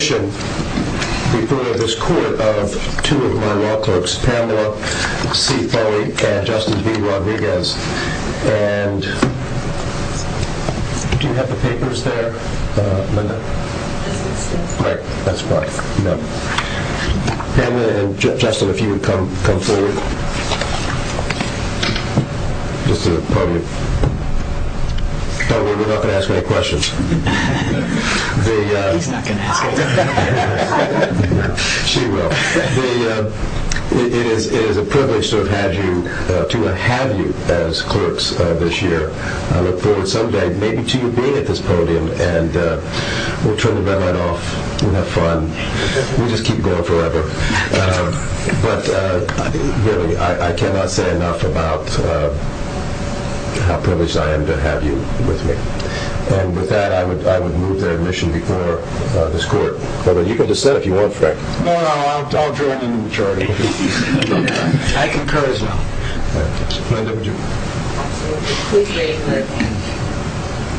In addition, we've heard of this court of two of my law clerks, Pamela C. Foley and Justin B. Rodriguez. Do you have the papers there, Linda? Right, that's fine. Pamela and Justin, if you would come forward. Just to the podium. Don't worry, we're not going to ask any questions. He's not going to ask any questions. She will. It is a privilege to have you as clerks this year. I look forward someday maybe to you being at this podium. We'll turn the red light off and have fun. We'll just keep going forever. But really, I cannot say enough about how privileged I am to have you with me. And with that, I would move the admission before this court. You can dissent if you want, Frank. No, no, I'll join in the majority. I concur as well. Linda, would you? Absolutely. Please raise your hand.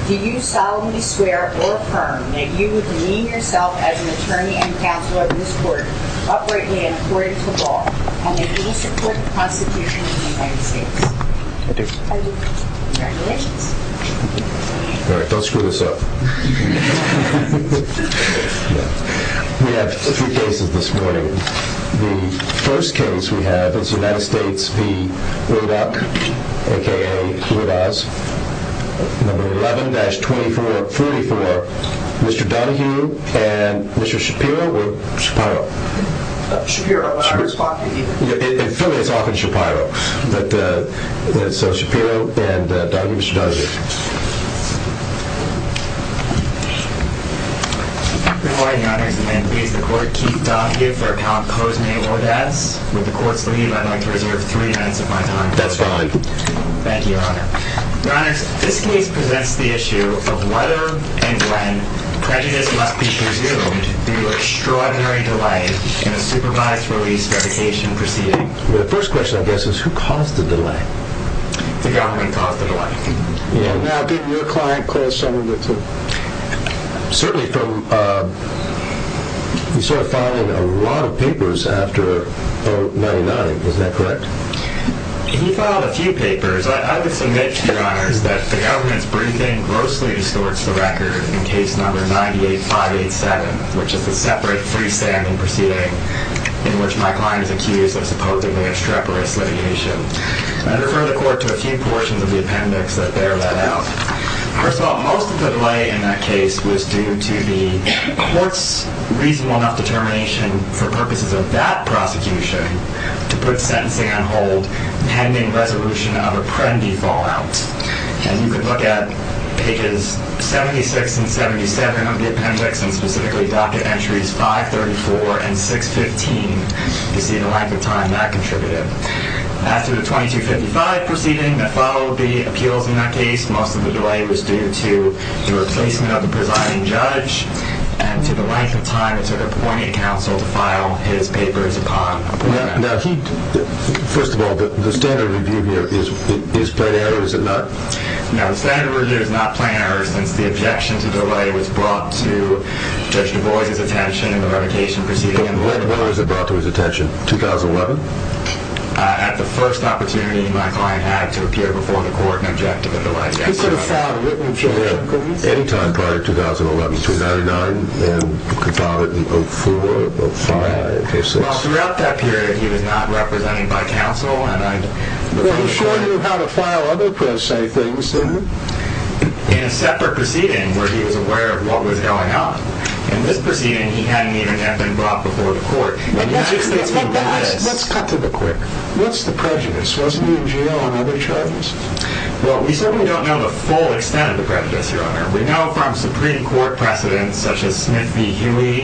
Do you solemnly swear or affirm that you would demean yourself as an attorney and counsel of this court, uprightly and according to law, and that you will support the prosecution of the United States? I do. Congratulations. All right. Don't screw this up. We have three cases this morning. The first case we have is United States v. Radock, a.k.a. Radoz, No. 11-44, Mr. Donohue and Mr. Shapiro or Shapiro? Shapiro. In Philly, it's often Shapiro. So, Shapiro and Donohue, Mr. Donohue. Good morning, Your Honor. As the man who leads the court, Keith Donohue, for a count pose me audacity. With the court's leave, I'd like to reserve three minutes of my time. That's fine. Thank you, Your Honor. Your Honor, this case presents the issue of whether and when prejudice must be presumed due to extraordinary delay in a supervised release verification proceeding. The first question, I guess, is who caused the delay? The government caused the delay. Now, did your client cause some of it, too? Certainly. You started filing a lot of papers after 1999. Is that correct? He filed a few papers. I would submit, Your Honor, that the government's briefing grossly distorts the record in case No. 98-587, which is a separate freestanding proceeding in which my client is accused of supposedly extreporous litigation. I refer the court to a few portions of the appendix that bear that out. First of all, most of the delay in that case was due to the court's reasonable enough determination for purposes of that prosecution to put sentencing on hold pending resolution of apprendee fallout. And you can look at pages 76 and 77 of the appendix, and specifically docket entries 534 and 615, to see the length of time that contributed. After the 2255 proceeding that followed the appeals in that case, most of the delay was due to the replacement of the presiding judge, and to the length of time it took appointing counsel to file his papers upon appointment. First of all, the standard review here is plain error, is it not? No, the standard review is not plain error since the objection to delay was brought to Judge DuBois' attention in the revocation proceeding. When was it brought to his attention? 2011? At the first opportunity my client had to appear before the court and object to the delay. He could have filed a written objection any time prior to 2011, between 99 and could file it in 04, 05, 06. Well, throughout that period he was not represented by counsel and I... Well, he sure knew how to file other pres-say things, didn't he? In a separate proceeding where he was aware of what was going on. In this proceeding he hadn't even been brought before the court. Let's cut to the quick. What's the prejudice? Wasn't he in jail on other charges? Well, we certainly don't know the full extent of the prejudice, Your Honor. We know from Supreme Court precedents such as Smith v. Huey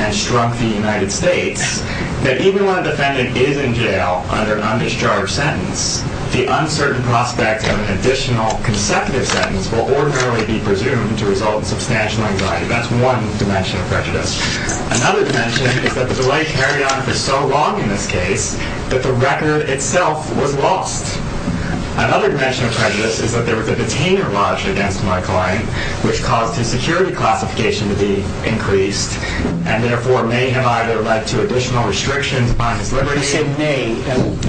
and Strunk v. United States that even when a defendant is in jail under an uncharged sentence, the uncertain prospect of an additional consecutive sentence will ordinarily be presumed to result in substantial anxiety. That's one dimension of prejudice. Another dimension is that the delay carried on for so long in this case that the record itself was lost. Another dimension of prejudice is that there was a detainer lodged against my client which caused his security classification to be increased and therefore may have either led to additional restrictions on his liberty... You said may.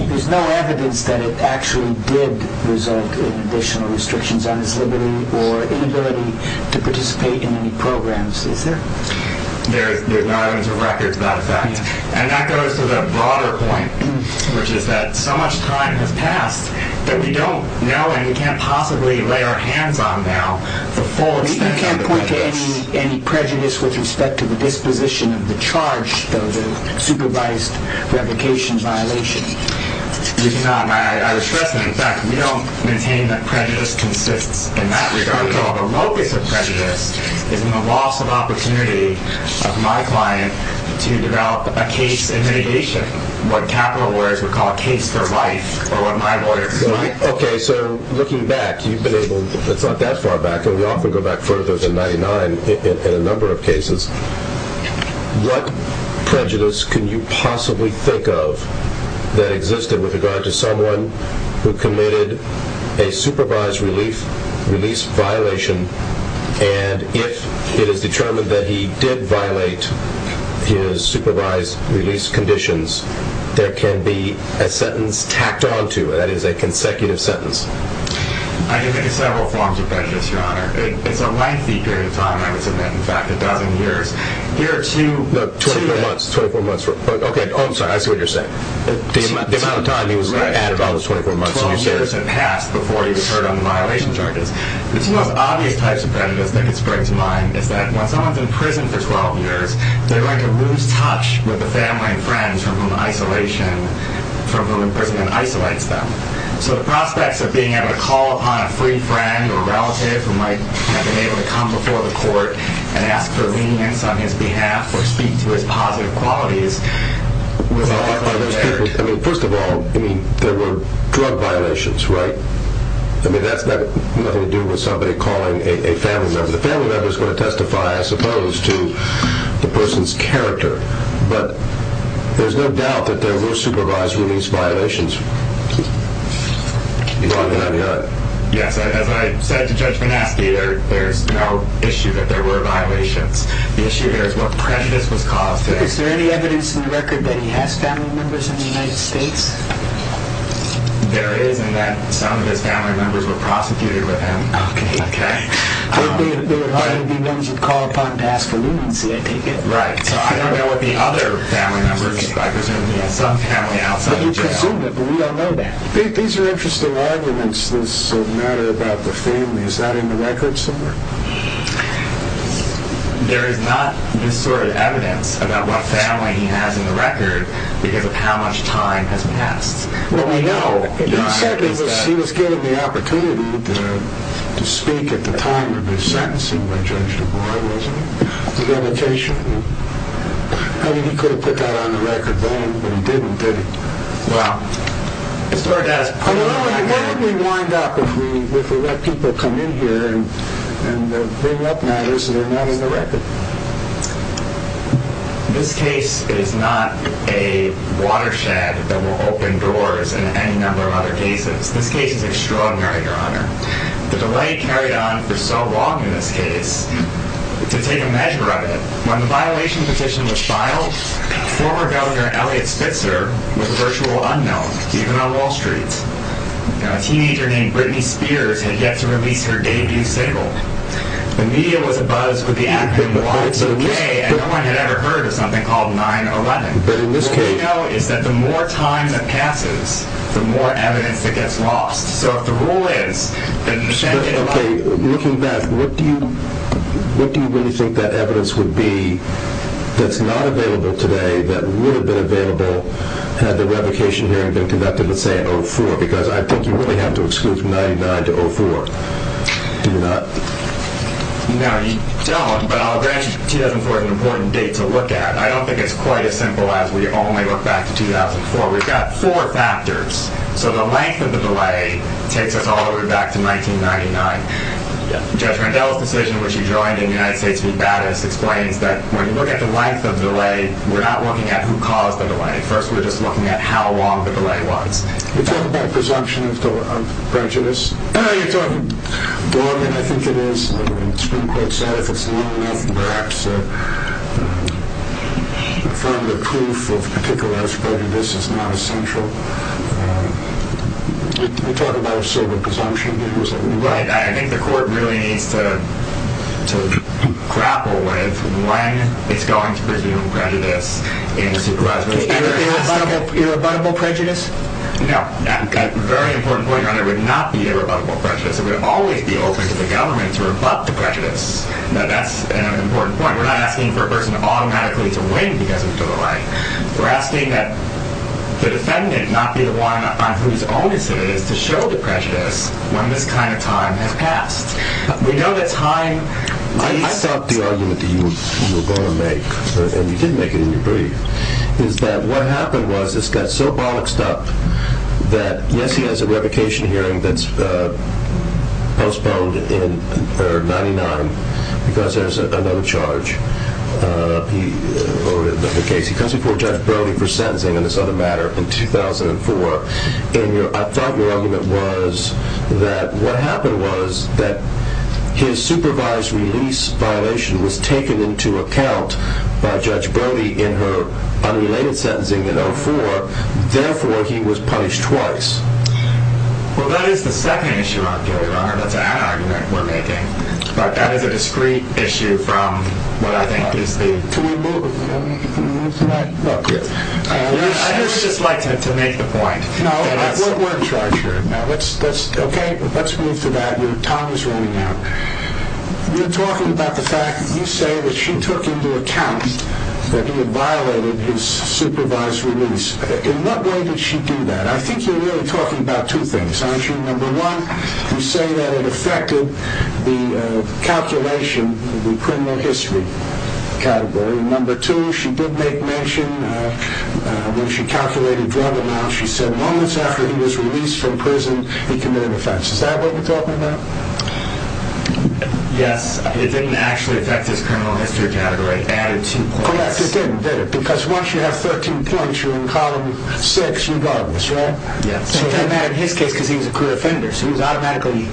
There's no evidence that it actually did result in additional restrictions on his liberty or inability to participate in any programs, is there? There's not evidence of records of that effect. And that goes to the broader point which is that so much time has passed that we don't know and we can't possibly lay our hands on now the full extent of the prejudice. You can't point to any prejudice with respect to the disposition of the charge of the supervised revocation violation? We do not. I was stressing the fact that we don't maintain that prejudice consists in that regard. The locus of prejudice is in the loss of opportunity of my client to develop a case in mitigation, what capital lawyers would call a case for life or what my lawyers might call... Okay, so looking back, you've been able... It's not that far back. We often go back further than 99 in a number of cases. What prejudice can you possibly think of that existed with regard to someone who committed a supervised release violation, and if it is determined that he did violate his supervised release conditions, there can be a sentence tacked on to it, that is, a consecutive sentence? I can think of several forms of prejudice, Your Honor. It's a lengthy period of time, I would submit, in fact, a dozen years. Here are two... No, 24 months. 24 months. Okay, I'm sorry, I see what you're saying. The amount of time he was in prison... 12 years had passed before he was heard on the violation charges. The two most obvious types of prejudice that could spring to mind is that when someone's in prison for 12 years, they'd like to lose touch with the family and friends from whom isolation... from whom imprisonment isolates them. So the prospects of being able to call upon a free friend or relative who might have been able to come before the court and ask for lenience on his behalf or speak to his positive qualities was... I mean, first of all, I mean, there were drug violations, right? I mean, that's got nothing to do with somebody calling a family member. The family member's going to testify, I suppose, to the person's character, but there's no doubt that there were supervised release violations. Yes, as I said to Judge Van Aske, there's no issue that there were violations. The issue here is what prejudice was caused there. Is there any evidence in the record that he has family members in the United States? There is, in that some of his family members were prosecuted with him. Okay. There are likely to be ones who call upon to ask for leniency, I take it? Right. So I don't know what the other family members... I presume he has some family outside of jail. We don't know that. These are interesting arguments that matter about the family. Is that in the record somewhere? There is not this sort of evidence about what family he has in the record because of how much time has passed. Well, we know. He said he was given the opportunity to speak at the time of his sentencing by Judge DuBois, wasn't he? The revocation. I mean, he could have put that on the record then, but he didn't, did he? Well... I don't know, how did we wind up if we let people come in here and bring up matters that are not on the record? This case is not a watershed that will open doors in any number of other cases. This case is extraordinary, Your Honor. The delay carried on for so long in this case to take a measure of it. When the violation petition was filed, former Governor Eliot Spitzer was a virtual unknown, even on Wall Street. A teenager named Britney Spears had yet to release her debut single. The media was abuzz with the act being launched today, and no one had ever heard of something called 9-11. All we know is that the more time that passes, the more evidence that gets lost. So if the rule is that... Okay, looking back, what do you really think that evidence would be that's not available today, that would have been available had the revocation hearing been conducted, let's say, in 2004? Because I think you really have to exclude from 1999 to 2004, do you not? No, you don't, but I'll grant you 2004 is an important date to look at. I don't think it's quite as simple as we only look back to 2004. We've got four factors. So the length of the delay takes us all the way back to 1999. Judge Randell's decision, which he joined in the United States v. Battis, explains that when you look at the length of the delay, we're not looking at who caused the delay. First, we're just looking at how long the delay was. You're talking about presumption of prejudice. You're talking Darwin, I think it is. The Supreme Court said if it's long enough to perhaps confirm the proof of particular prejudice, it's not essential. You're talking about a certain presumption here. Right, I think the court really needs to grapple with when it's going to presume prejudice in a supervisory case. Irrebuttable prejudice? No, a very important point, Your Honor, would not be irrebuttable prejudice. It would always be open to the government to rebut the prejudice. That's an important point. We're not asking for a person automatically to win because of the delay. We're asking that the defendant not be the one on whose onus it is to show the prejudice when this kind of time has passed. We know that time... I thought the argument that you were going to make, and you did make it in your brief, is that what happened was it got so boxed up that, yes, he has a revocation hearing that's postponed in 1999 because there's another charge over the case. He comes before Judge Brody for sentencing in this other matter in 2004. I thought your argument was that what happened was that his supervised release violation was taken into account by Judge Brody in her unrelated sentencing in 2004. Therefore, he was punished twice. Well, that is the second issue, Your Honor. That's a hat argument we're making. That is a discrete issue from what I think is the... Can we move to that? I would just like to make the point... No, we're in charge here. Okay, let's move to that. Your time is running out. You're talking about the fact that you say that she took into account that he had violated his supervised release. In what way did she do that? I think you're really talking about two things, aren't you? Number one, you say that it affected the calculation, the criminal history category. Number two, she did make mention when she calculated drug amounts, she said moments after he was released from prison, he committed offense. Is that what you're talking about? Yes. It didn't actually affect his criminal history category. It added two points. Correct, it didn't, did it? Because once you have 13 points, you're in column 6 regardless, right? Yes. It didn't matter in his case because he was a clear offender, so he was automatically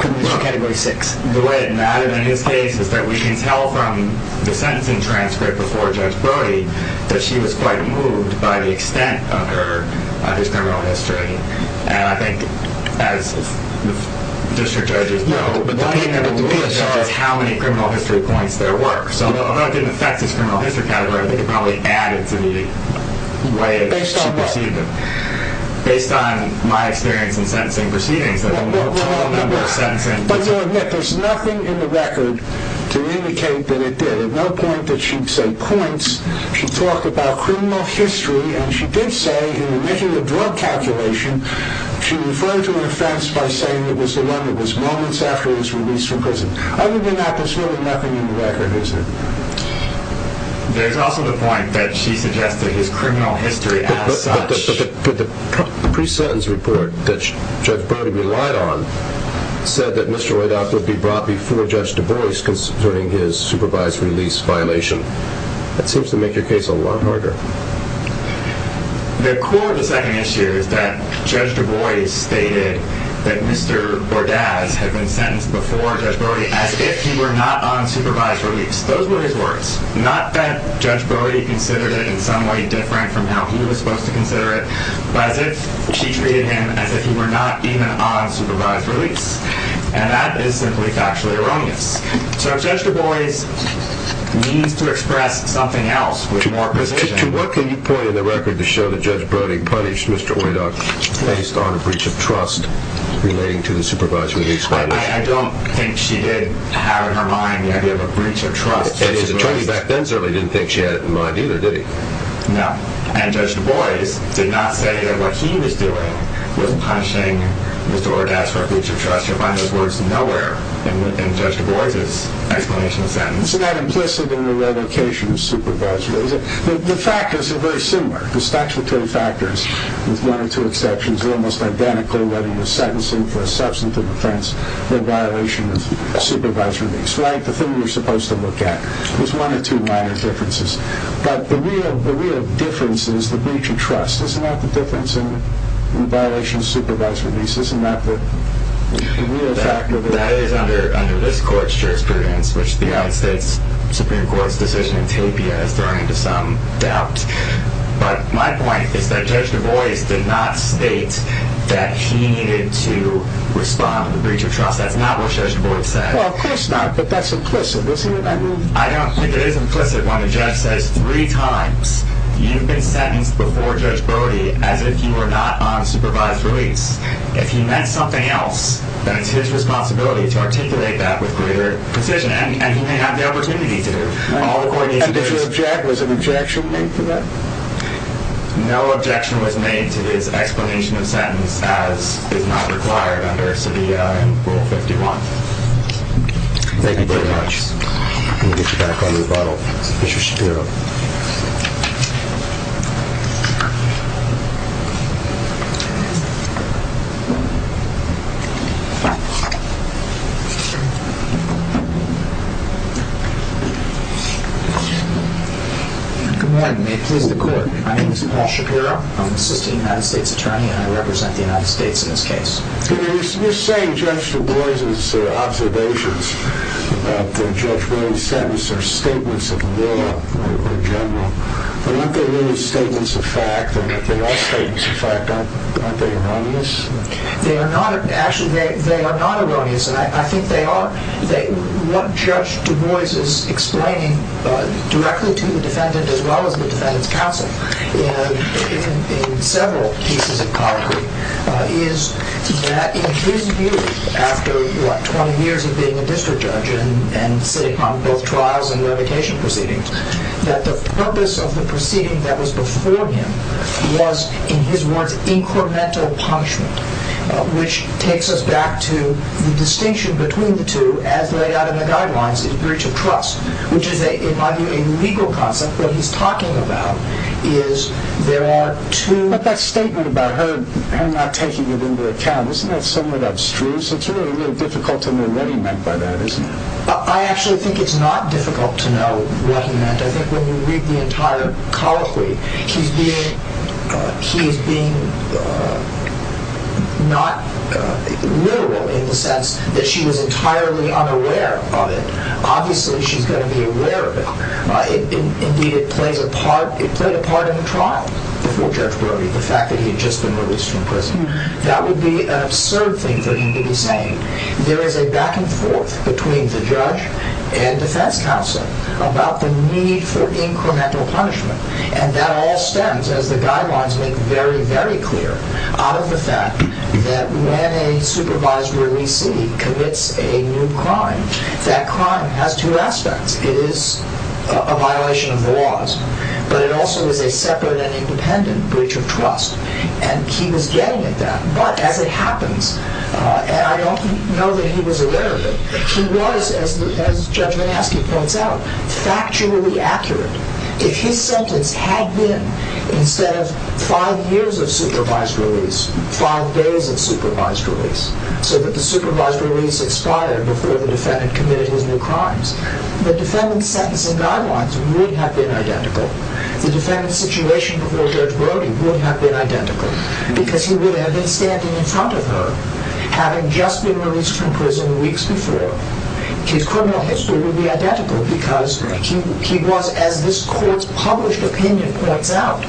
criminal history category 6. The way it mattered in his case is that we can tell from the sentencing transcript before Judge Brody that she was quite moved by the extent of his criminal history. And I think as the district judges know, the thing that really matters is how many criminal history points there were. So although it didn't affect his criminal history category, I think it probably added to the way she perceived him. Based on what? Based on my experience in sentencing proceedings, I don't know a total number of sentencing proceedings. But you'll admit there's nothing in the record to indicate that it did. At no point did she say points. She talked about criminal history, and she did say in making the drug calculation she referred to an offense by saying it was the one that was moments after he was released from prison. Other than that, there's really nothing in the record, is there? There's also the point that she suggested his criminal history as such. But the pre-sentence report that Judge Brody relied on said that Mr. Bordas would be brought before Judge DuBois concerning his supervised release violation. That seems to make your case a lot harder. The core of the second issue is that Judge DuBois stated that Mr. Bordas had been sentenced before Judge Brody as if he were not on supervised release. Those were his words. Not that Judge Brody considered it in some way different from how he was supposed to consider it, but as if she treated him as if he were not even on supervised release. And that is simply factually erroneous. So Judge DuBois needs to express something else with more precision. To what can you point in the record to show that Judge Brody punished Mr. Oydock based on a breach of trust relating to the supervised release violation? I don't think she did have in her mind that he had a breach of trust. The attorney back then certainly didn't think she had it in mind either, did he? No. And Judge DuBois did not say that what he was doing was punishing Mr. Oydock for a breach of trust. You'll find those words nowhere in Judge DuBois' explanation of the sentence. So that implicit and irrevocation of supervised release. The factors are very similar. The statutory factors, with one or two exceptions, are almost identical whether you're sentencing for a substantive offense or a violation of supervised release. Like the thing you're supposed to look at. There's one or two minor differences. But the real difference is the breach of trust. Isn't that the difference in violation of supervised release? Isn't that the real factor? That is under this court's jurisprudence, which the United States Supreme Court's decision in Tapia has thrown into some doubt. But my point is that Judge DuBois did not state that he needed to respond to the breach of trust. That's not what Judge DuBois said. Well, of course not, but that's implicit, isn't it? I don't think it is implicit when the judge says three times, you've been sentenced before Judge Brody as if you were not on supervised release. If he meant something else, then it's his responsibility to articulate that with greater precision. And he may have the opportunity to do it. And did you object? Was an objection made to that? No objection was made to his explanation of sentence as is not required under Savia in Rule 51. Thank you very much. We'll get you back on rebuttal. Mr. Shapiro. Good morning. May it please the court. My name is Paul Shapiro. I'm an assistant United States attorney, and I represent the United States in this case. You're saying Judge DuBois' observations about Judge Brody's sentence are statements of law in general. But aren't they really statements of fact? They are statements of fact. Aren't they erroneous? Actually, they are not erroneous. And I think they are. What Judge DuBois is explaining directly to the defendant as well as the defendant's counsel in several cases of colloquy is that in his view after 20 years of being a district judge and sitting on both trials and revocation proceedings, that the purpose of the proceeding that was before him was, in his words, incremental punishment, which takes us back to the distinction between the two as laid out in the guidelines in breach of trust, which is, in my view, a legal concept. What he's talking about is there are two... He's not taking it into account. Isn't that somewhat abstruse? It's really difficult to know what he meant by that, isn't it? I actually think it's not difficult to know what he meant. I think when you read the entire colloquy, he's being not literal in the sense that she was entirely unaware of it. Obviously, she's going to be aware of it. Indeed, it played a part in the trial before Judge Brody, the fact that he had just been released from prison. That would be an absurd thing for him to be saying. There is a back and forth between the judge and defense counsel about the need for incremental punishment, and that all stems, as the guidelines make very, very clear, out of the fact that when a supervised releasee commits a new crime, It is a violation of the laws, but it also is a separate and independent breach of trust, and he was getting at that. But as it happens, and I don't know that he was aware of it, he was, as Judge Manaski points out, factually accurate. If his sentence had been, instead of five years of supervised release, five days of supervised release, so that the supervised release expired before the defendant committed his new crimes, the defendant's sentence and guidelines would have been identical. The defendant's situation before Judge Brody would have been identical, because he would have been standing in front of her, having just been released from prison weeks before. His criminal history would be identical, because he was, as this court's published opinion points out,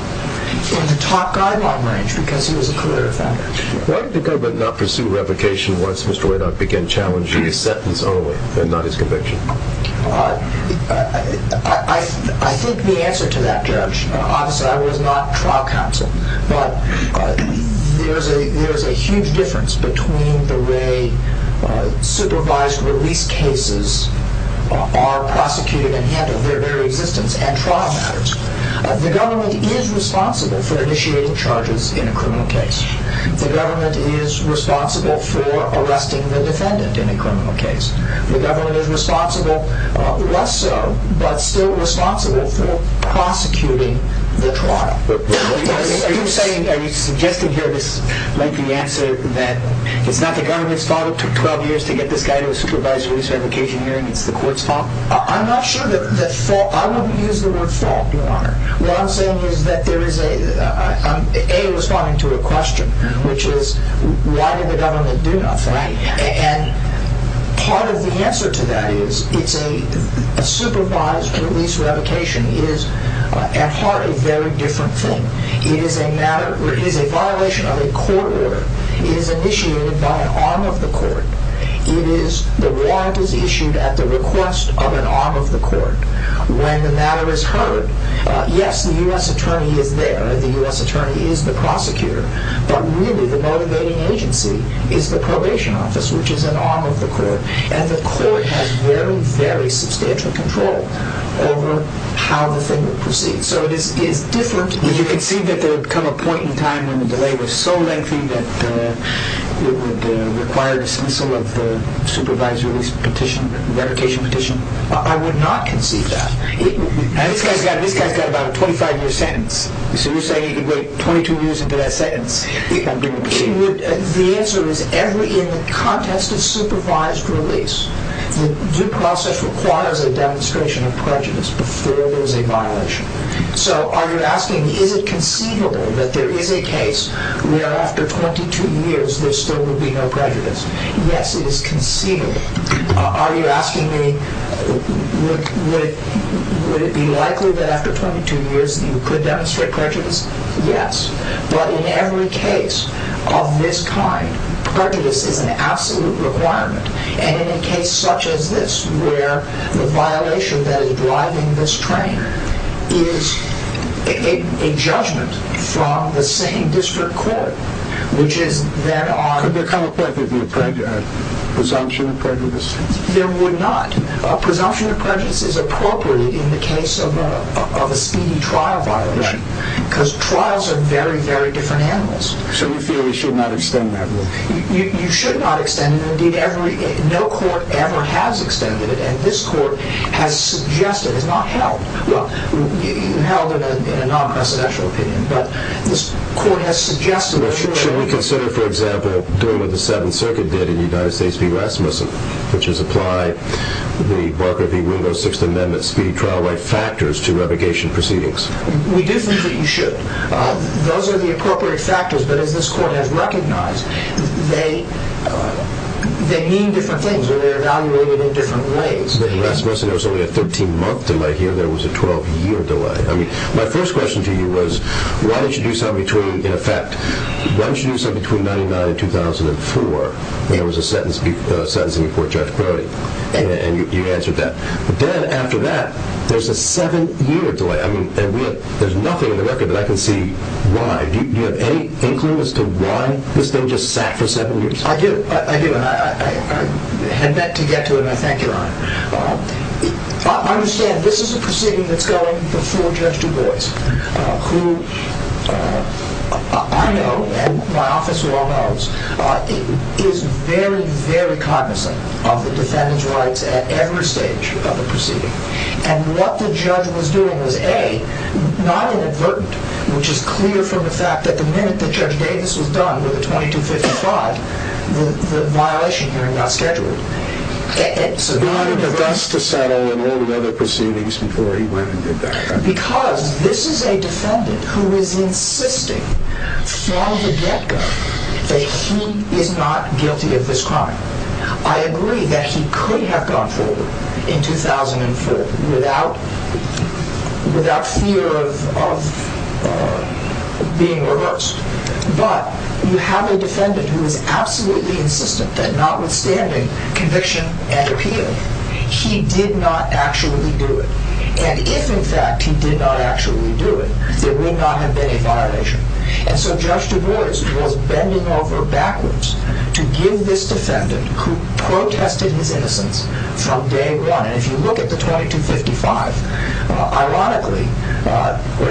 in the top guideline range, because he was a career offender. Why did the government not pursue revocation once Mr. Radock began challenging his sentence only, and not his conviction? I think the answer to that, Judge, obviously I was not trial counsel, but there is a huge difference between the way supervised release cases are prosecuted and handled, their very existence, and trial matters. The government is responsible for initiating charges in a criminal case. The government is responsible for arresting the defendant in a criminal case. The government is responsible, less so, but still responsible for prosecuting the trial. Are you saying, are you suggesting here, like the answer, that it's not the government's fault it took 12 years to get this guy to a supervised release revocation hearing, it's the court's fault? I'm not sure that, I wouldn't use the word fault, Your Honor. What I'm saying is that there is a, A, responding to a question, which is, why did the government do nothing? Right. And part of the answer to that is, a supervised release revocation is, at heart, a very different thing. It is a matter, it is a violation of a court order. It is initiated by an arm of the court. It is, the warrant is issued at the request of an arm of the court. When the matter is heard, yes, the U.S. attorney is there, the U.S. attorney is the prosecutor, but really the motivating agency is the probation office, which is an arm of the court. And the court has very, very substantial control over how the thing will proceed. So it is different. Would you conceive that there would come a point in time when the delay was so lengthy that it would require dismissal of the supervised release petition, revocation petition? I would not conceive that. And this guy's got about a 25-year sentence. So you're saying he could wait 22 years and get a sentence? The answer is, in the context of supervised release, the due process requires a demonstration of prejudice before there is a violation. So are you asking, is it conceivable that there is a case where, after 22 years, there still would be no prejudice? Yes, it is conceivable. Are you asking me, would it be likely that after 22 years you could demonstrate prejudice? Yes. But in every case of this kind, prejudice is an absolute requirement. And in a case such as this, where the violation that is driving this train is a judgment from the same district court, which is then on... Could there come a point where there would be a presumption of prejudice? There would not. A presumption of prejudice is appropriate in the case of a speedy trial violation, because trials are very, very different animals. So you feel we should not extend that rule? You should not extend it. Indeed, no court ever has extended it, and this court has suggested, it's not held. Well, held in a non-presidential opinion, but this court has suggested that... Should we consider, for example, doing what the Seventh Circuit did in the United States v. Rasmussen, which is apply the Barker v. Wingo Sixth Amendment speedy trial right factors to revocation proceedings? We do think that you should. Those are the appropriate factors, but as this court has recognized, they mean different things, and they're evaluated in different ways. In Rasmussen, there was only a 13-month delay. Here, there was a 12-year delay. My first question to you was, why don't you do something in effect? Why don't you do something between 1999 and 2004, when there was a sentencing before Judge Brody? And you answered that. But then, after that, there's a 7-year delay. I mean, there's nothing in the record that I can see why. Do you have any inkling as to why this thing just sat for 7 years? I do, I do, and I had meant to get to it, and I thank you, Your Honor. I understand this is a proceeding that's going before Judge Du Bois, who I know, and my office well knows, is very, very cognizant of the defendant's rights at every stage of the proceeding. And what the judge was doing was, A, not inadvertent, which is clear from the fact that the minute that Judge Davis was done with the 2255, the violation hearing got scheduled. So not inadvertent. He wanted Du Bois to settle and all the other proceedings before he went and did that. Because this is a defendant who is insisting from the get-go that he is not guilty of this crime. I agree that he could have gone forward in 2004 without fear of being reversed. But you have a defendant who is absolutely insistent that notwithstanding conviction and appeal, he did not actually do it. And if, in fact, he did not actually do it, there would not have been a violation. And so Judge Du Bois was bending over backwards to give this defendant who protested his innocence from day one. And if you look at the 2255, ironically,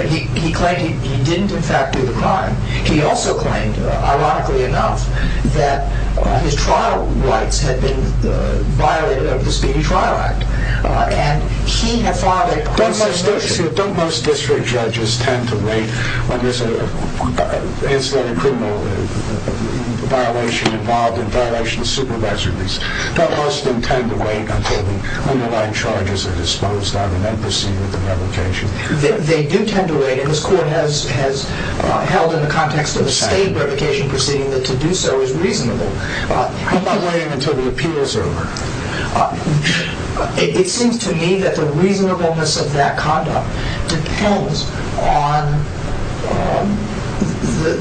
he claimed he didn't, in fact, do the crime. He also claimed, ironically enough, that his trial rights had been violated under the Speedy Trial Act. Don't most district judges tend to wait when there's an incident of criminal violation involved in violation of supervised release? Don't most of them tend to wait until the underlying charges are disposed of and then proceed with the revocation? They do tend to wait. And this Court has held in the context of a state revocation proceeding that to do so is reasonable. How about waiting until the appeal is over? It seems to me that the reasonableness of that conduct depends on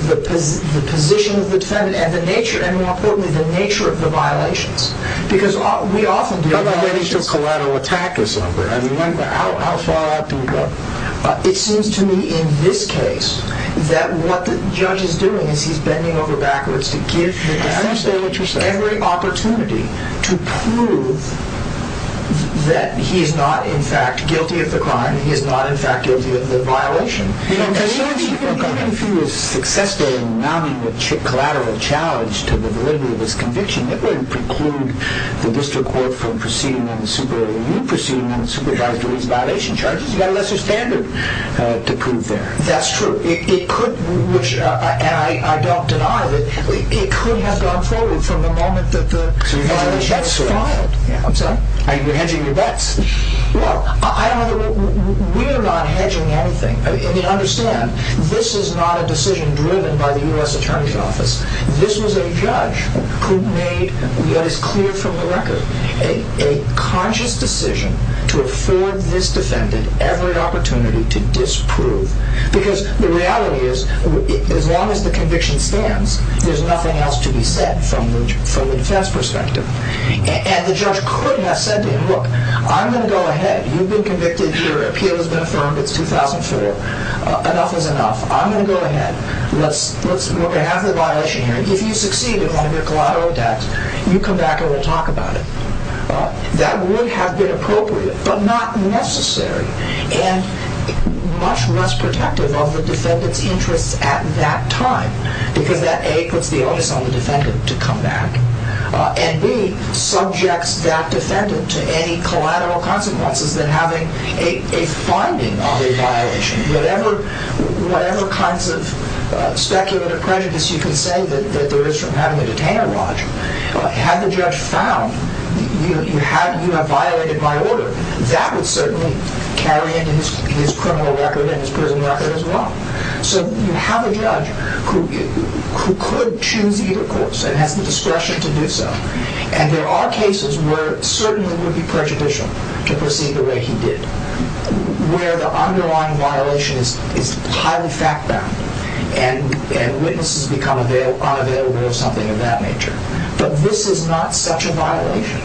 the position of the defendant and, more importantly, the nature of the violations. How about waiting until collateral attack is over? How far out do we go? It seems to me, in this case, that what the judge is doing is he's bending over backwards to give the defendant every opportunity to prove that he's not, in fact, guilty of the crime, he's not, in fact, guilty of the violation. Even if he was successful in mounting a collateral challenge to the validity of his conviction, it wouldn't preclude the district court from proceeding on the Superior Review, proceeding on the supervised release violation charges. You've got a lesser standard to prove there. That's true. And I don't deny that it could have gone forward from the moment that the violation was filed. So you're hedging your bets. I'm sorry? You're hedging your bets. Well, we're not hedging anything. I mean, understand, this is not a decision driven by the U.S. Attorney's Office. This was a judge who made, yet it's clear from the record, a conscious decision to afford this defendant every opportunity to disprove. Because the reality is, as long as the conviction stands, there's nothing else to be said from the defense perspective. And the judge could have said to him, look, I'm going to go ahead. You've been convicted. Your appeal has been affirmed. It's 2004. Enough is enough. I'm going to go ahead. Let's look at half the violation here. If you succeed in mounting a collateral attack, you come back and we'll talk about it. That would have been appropriate, but not necessary. And much less protective of the defendant's interests at that time, because that, A, puts the onus on the defendant to come back, and B, subjects that defendant to any collateral consequences than having a finding of a violation. Whatever kinds of speculative prejudice you can say that there is from having a detainer lodged, had the judge found you have violated my order, that would certainly carry into his criminal record and his prison record as well. So you have a judge who could choose either course and has the discretion to do so. And there are cases where it certainly would be prejudicial to proceed the way he did, where the underlying violation is highly fact-bound and witnesses become unavailable or something of that nature. But this is not such a violation.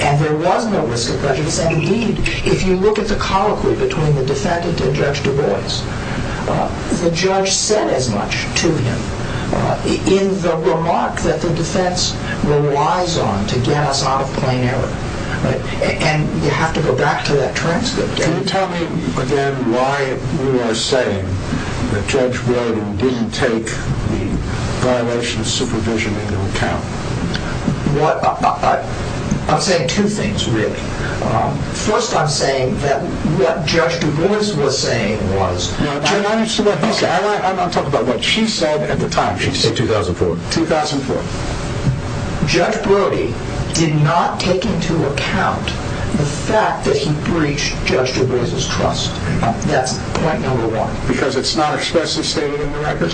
And there was no risk of prejudice. And indeed, if you look at the colloquy between the defendant and Judge Du Bois, the judge said as much to him in the remark that the defense relies on to get us out of plain error. And you have to go back to that transcript. Can you tell me, again, why you are saying the judge wrote and didn't take the violation of supervision into account? I'm saying two things, really. First, I'm saying that what Judge Du Bois was saying was... I'm not talking about what she said at the time. She said 2004. 2004. Judge Brody did not take into account the fact that he breached Judge Du Bois' trust. That's point number one. Because it's not expressly stated in the record?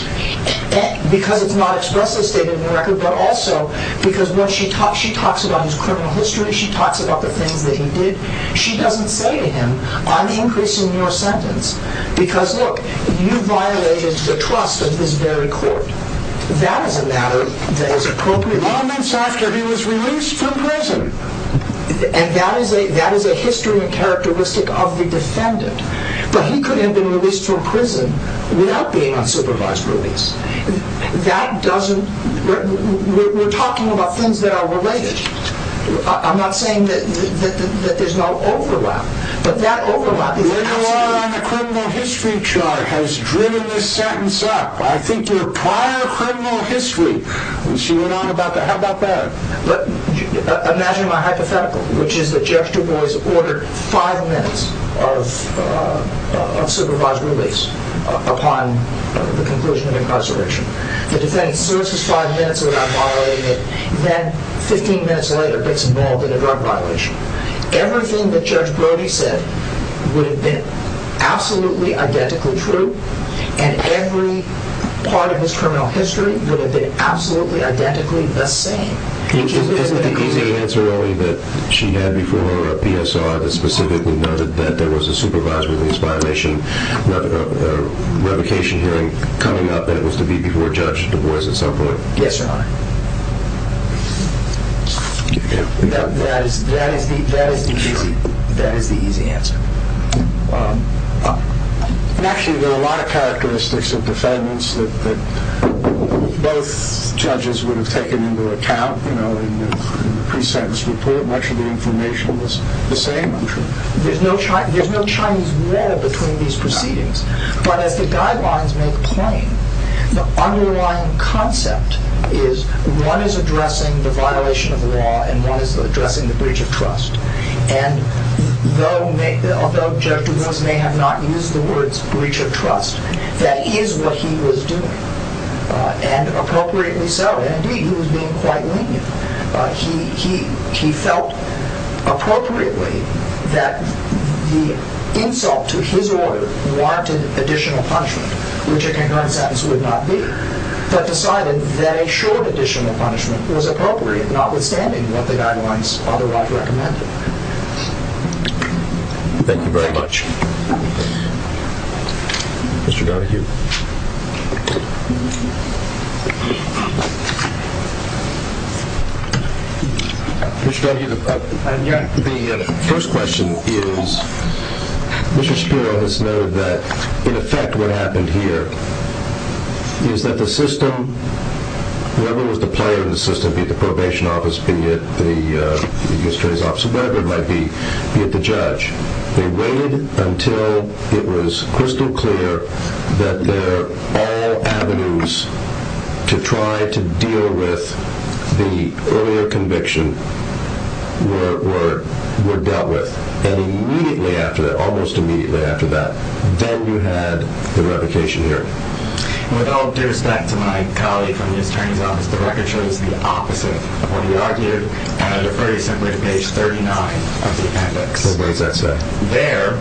Because it's not expressly stated in the record, but also because when she talks about his criminal history, she talks about the things that he did, she doesn't say to him, I'm increasing your sentence. Because look, you violated the trust of this very court. That is a matter that is appropriate. Moments after he was released from prison. And that is a history and characteristic of the defendant. But he could have been released from prison without being on supervised release. That doesn't... We're talking about things that are related. I'm not saying that there's no overlap, but that overlap is absolutely... Where you are on the criminal history chart has driven this sentence up. I think your prior criminal history, she went on about that. How about that? Imagine my hypothetical, which is that Judge Du Bois ordered five minutes of supervised release upon the conclusion of incarceration. The defendant serves his five minutes without violating it. Then 15 minutes later gets involved in a drug violation. Everything that Judge Brody said would have been absolutely identically true. And every part of his criminal history would have been absolutely identically the same. Isn't the easy answer only that she had before a PSR that specifically noted that there was a supervised release violation, a revocation hearing coming up, and it was to be before Judge Du Bois at some point? Yes, Your Honor. That is the easy answer. Actually, there are a lot of characteristics of defendants that both judges would have taken into account in the pre-sentence report. Much of the information was the same, I'm sure. There's no Chinese wall between these proceedings. But as the guidelines make plain, the underlying concept is one is addressing the violation of the law and one is addressing the breach of trust. And though Judge Du Bois may have not used the words breach of trust, that is what he was doing. And appropriately so. Indeed, he was being quite lenient. He felt appropriately that the insult to his order warranted additional punishment, which a concurrent sentence would not be. But decided that a short additional punishment was appropriate notwithstanding what the guidelines otherwise recommended. Thank you very much. Mr. Donohue. Mr. Donohue, the first question is Mr. Shapiro has noted that in effect what happened here is that the system, whoever was the player in the system, be it the probation office, be it the district's office, whatever it might be, be it the judge, they waited until it was crystal clear that their all avenues to try to deal with the earlier conviction were dealt with. And immediately after that, almost immediately after that, then you had the revocation hearing. With all due respect to my colleague from the attorney's office, the record shows the opposite of what he argued, and I defer you simply to page 39 of the appendix. What does that say? There,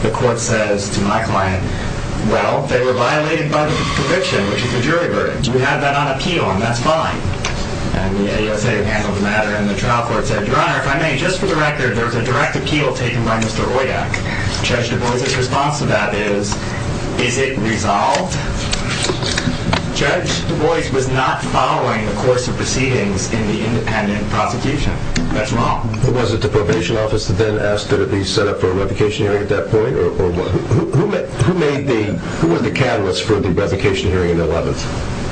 the court says to my client, well, they were violated by the conviction, which is the jury verdict. We have that on appeal, and that's fine. And the ASA handled the matter, and the trial court said, Your Honor, if I may, just for the record, there was a direct appeal taken by Mr. Royak. Judge DuBois' response to that is, Is it resolved? Judge DuBois was not following the course of proceedings in the independent prosecution. That's wrong. Was it the probation office that then asked that it be set up for a revocation hearing at that point, or who made the, who was the catalyst for the revocation hearing on the 11th?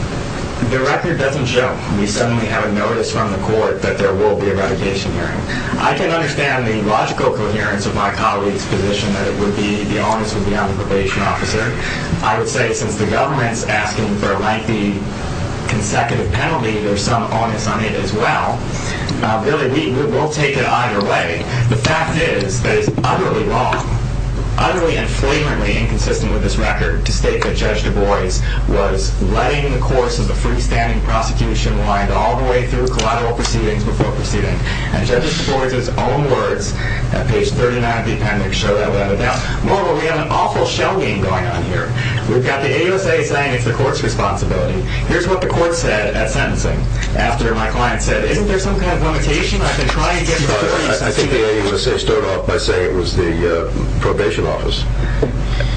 The record doesn't show. We suddenly have a notice from the court that there will be a revocation hearing. I can understand the logical coherence of my colleague's position that it would be, the onus would be on the probation officer. I would say, since the government's asking for a lengthy consecutive penalty, there's some onus on it as well. Really, we'll take it either way. The fact is that it's utterly wrong, utterly and flagrantly inconsistent with this record to state that Judge DuBois was letting the course of the freestanding prosecution wind all the way through collateral proceedings before proceeding. And Judge DuBois' own words at page 39 of the appendix show that without a doubt. Moreover, we have an awful shell game going on here. We've got the AUSA saying it's the court's responsibility. Here's what the court said at sentencing after my client said, isn't there some kind of limitation? I've been trying to get... I think the AUSA started off by saying it was the probation office.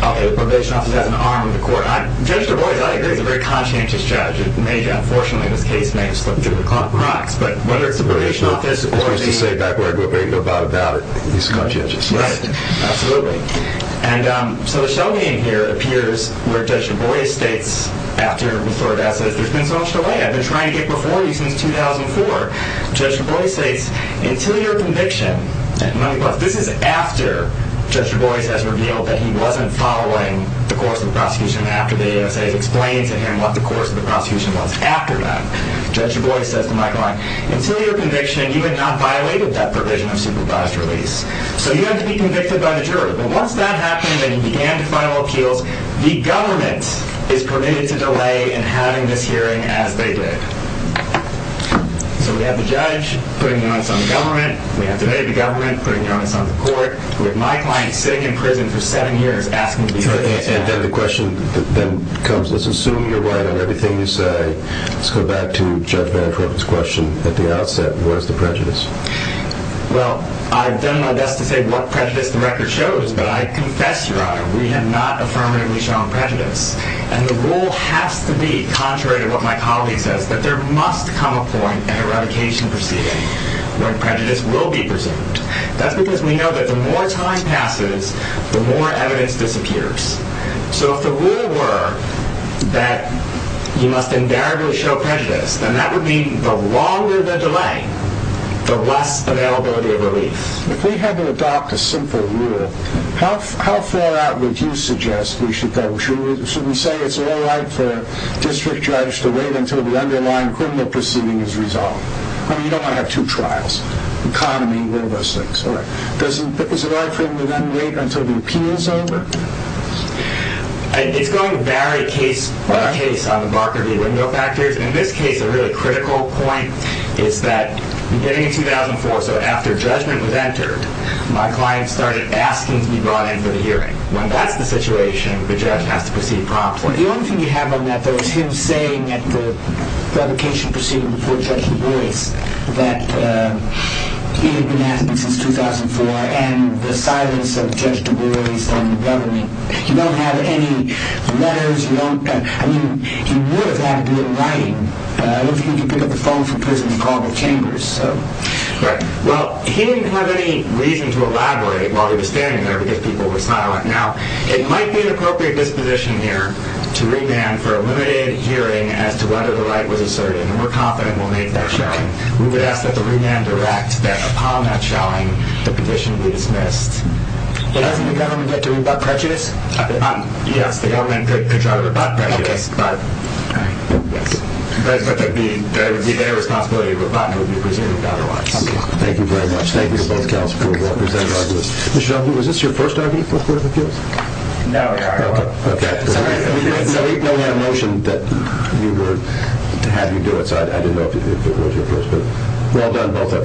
Okay, the probation office has an arm of the court. Judge DuBois, I agree, is a very conscientious judge. Unfortunately, this case may have slipped through the cracks. But whether it's the probation office or the... As we used to say back where I grew up, there ain't no doubt about it. He's conscientious. Right, absolutely. And so the shell game here appears where Judge DuBois states after the court has said, there's been so much delay. I've been trying to get before you since 2004. Judge DuBois states, until your conviction... This is after Judge DuBois has revealed that he wasn't following the course of the prosecution after the AUSA has explained to him what the course of the prosecution was after that. Judge DuBois says to Mike Lange, until your conviction, you have not violated that provision of supervised release. So you have to be convicted by the jury. But once that happened and he began the final appeals, the government is permitted to delay in having this hearing as they did. So we have the judge putting the onus on the government. We have today the government putting the onus on the court. We have Mike Lange sitting in prison for seven years asking to be put on trial. And then the question then comes, let's assume you're right on everything you say. Let's go back to Judge Van Tropen's question at the outset. What is the prejudice? Well, I've done my best to say what prejudice the record shows, but I confess, Your Honor, we have not affirmatively shown prejudice. And the rule has to be, contrary to what my colleague says, that there must come a point at a revocation proceeding when prejudice will be presumed. That's because we know that the more time passes, the more evidence disappears. So if the rule were that you must invariably show prejudice, then that would mean the longer the delay, the less availability of relief. If we had to adopt a simple rule, how far out would you suggest we should go? Should we say it's all right for a district judge to wait until the underlying criminal proceeding is resolved? I mean, you don't want to have two trials. Economy, one of those things. All right. Does it allow for him to then wait until the appeal is over? It's going to vary case by case on the Barker v. Wendell factors. In this case, a really critical point is that beginning in 2004, so after judgment was entered, my client started asking to be brought in for the hearing. When that's the situation, the judge has to proceed promptly. The only thing you have on that, though, is him saying at the revocation proceeding before Judge DuBois that he had been asking since 2004 and the silence of Judge DuBois and the government. You don't have any letters. I mean, he would have had to do it in writing. I don't think he could pick up the phone from prison and call the chambers, so... Right. Well, he didn't have any reason to elaborate while he was standing there because people were silent. Now, it might be an appropriate disposition here to remand for a limited hearing as to whether the right was asserted, and we're confident we'll make that showing. We would ask that the remander act that upon that showing the petition be dismissed. But doesn't the government get to rebut prejudice? Yes, the government could try to rebut prejudice, but... All right. Yes. But that would be their responsibility. Rebutting would be presumed otherwise. Thank you very much. Thank you to both counselors for presenting all of this. Mr. Duffy, was this your first argument for court of appeals? No. OK. We had a motion that we would have you do it, so I didn't know if it was your first. But well done, both of you.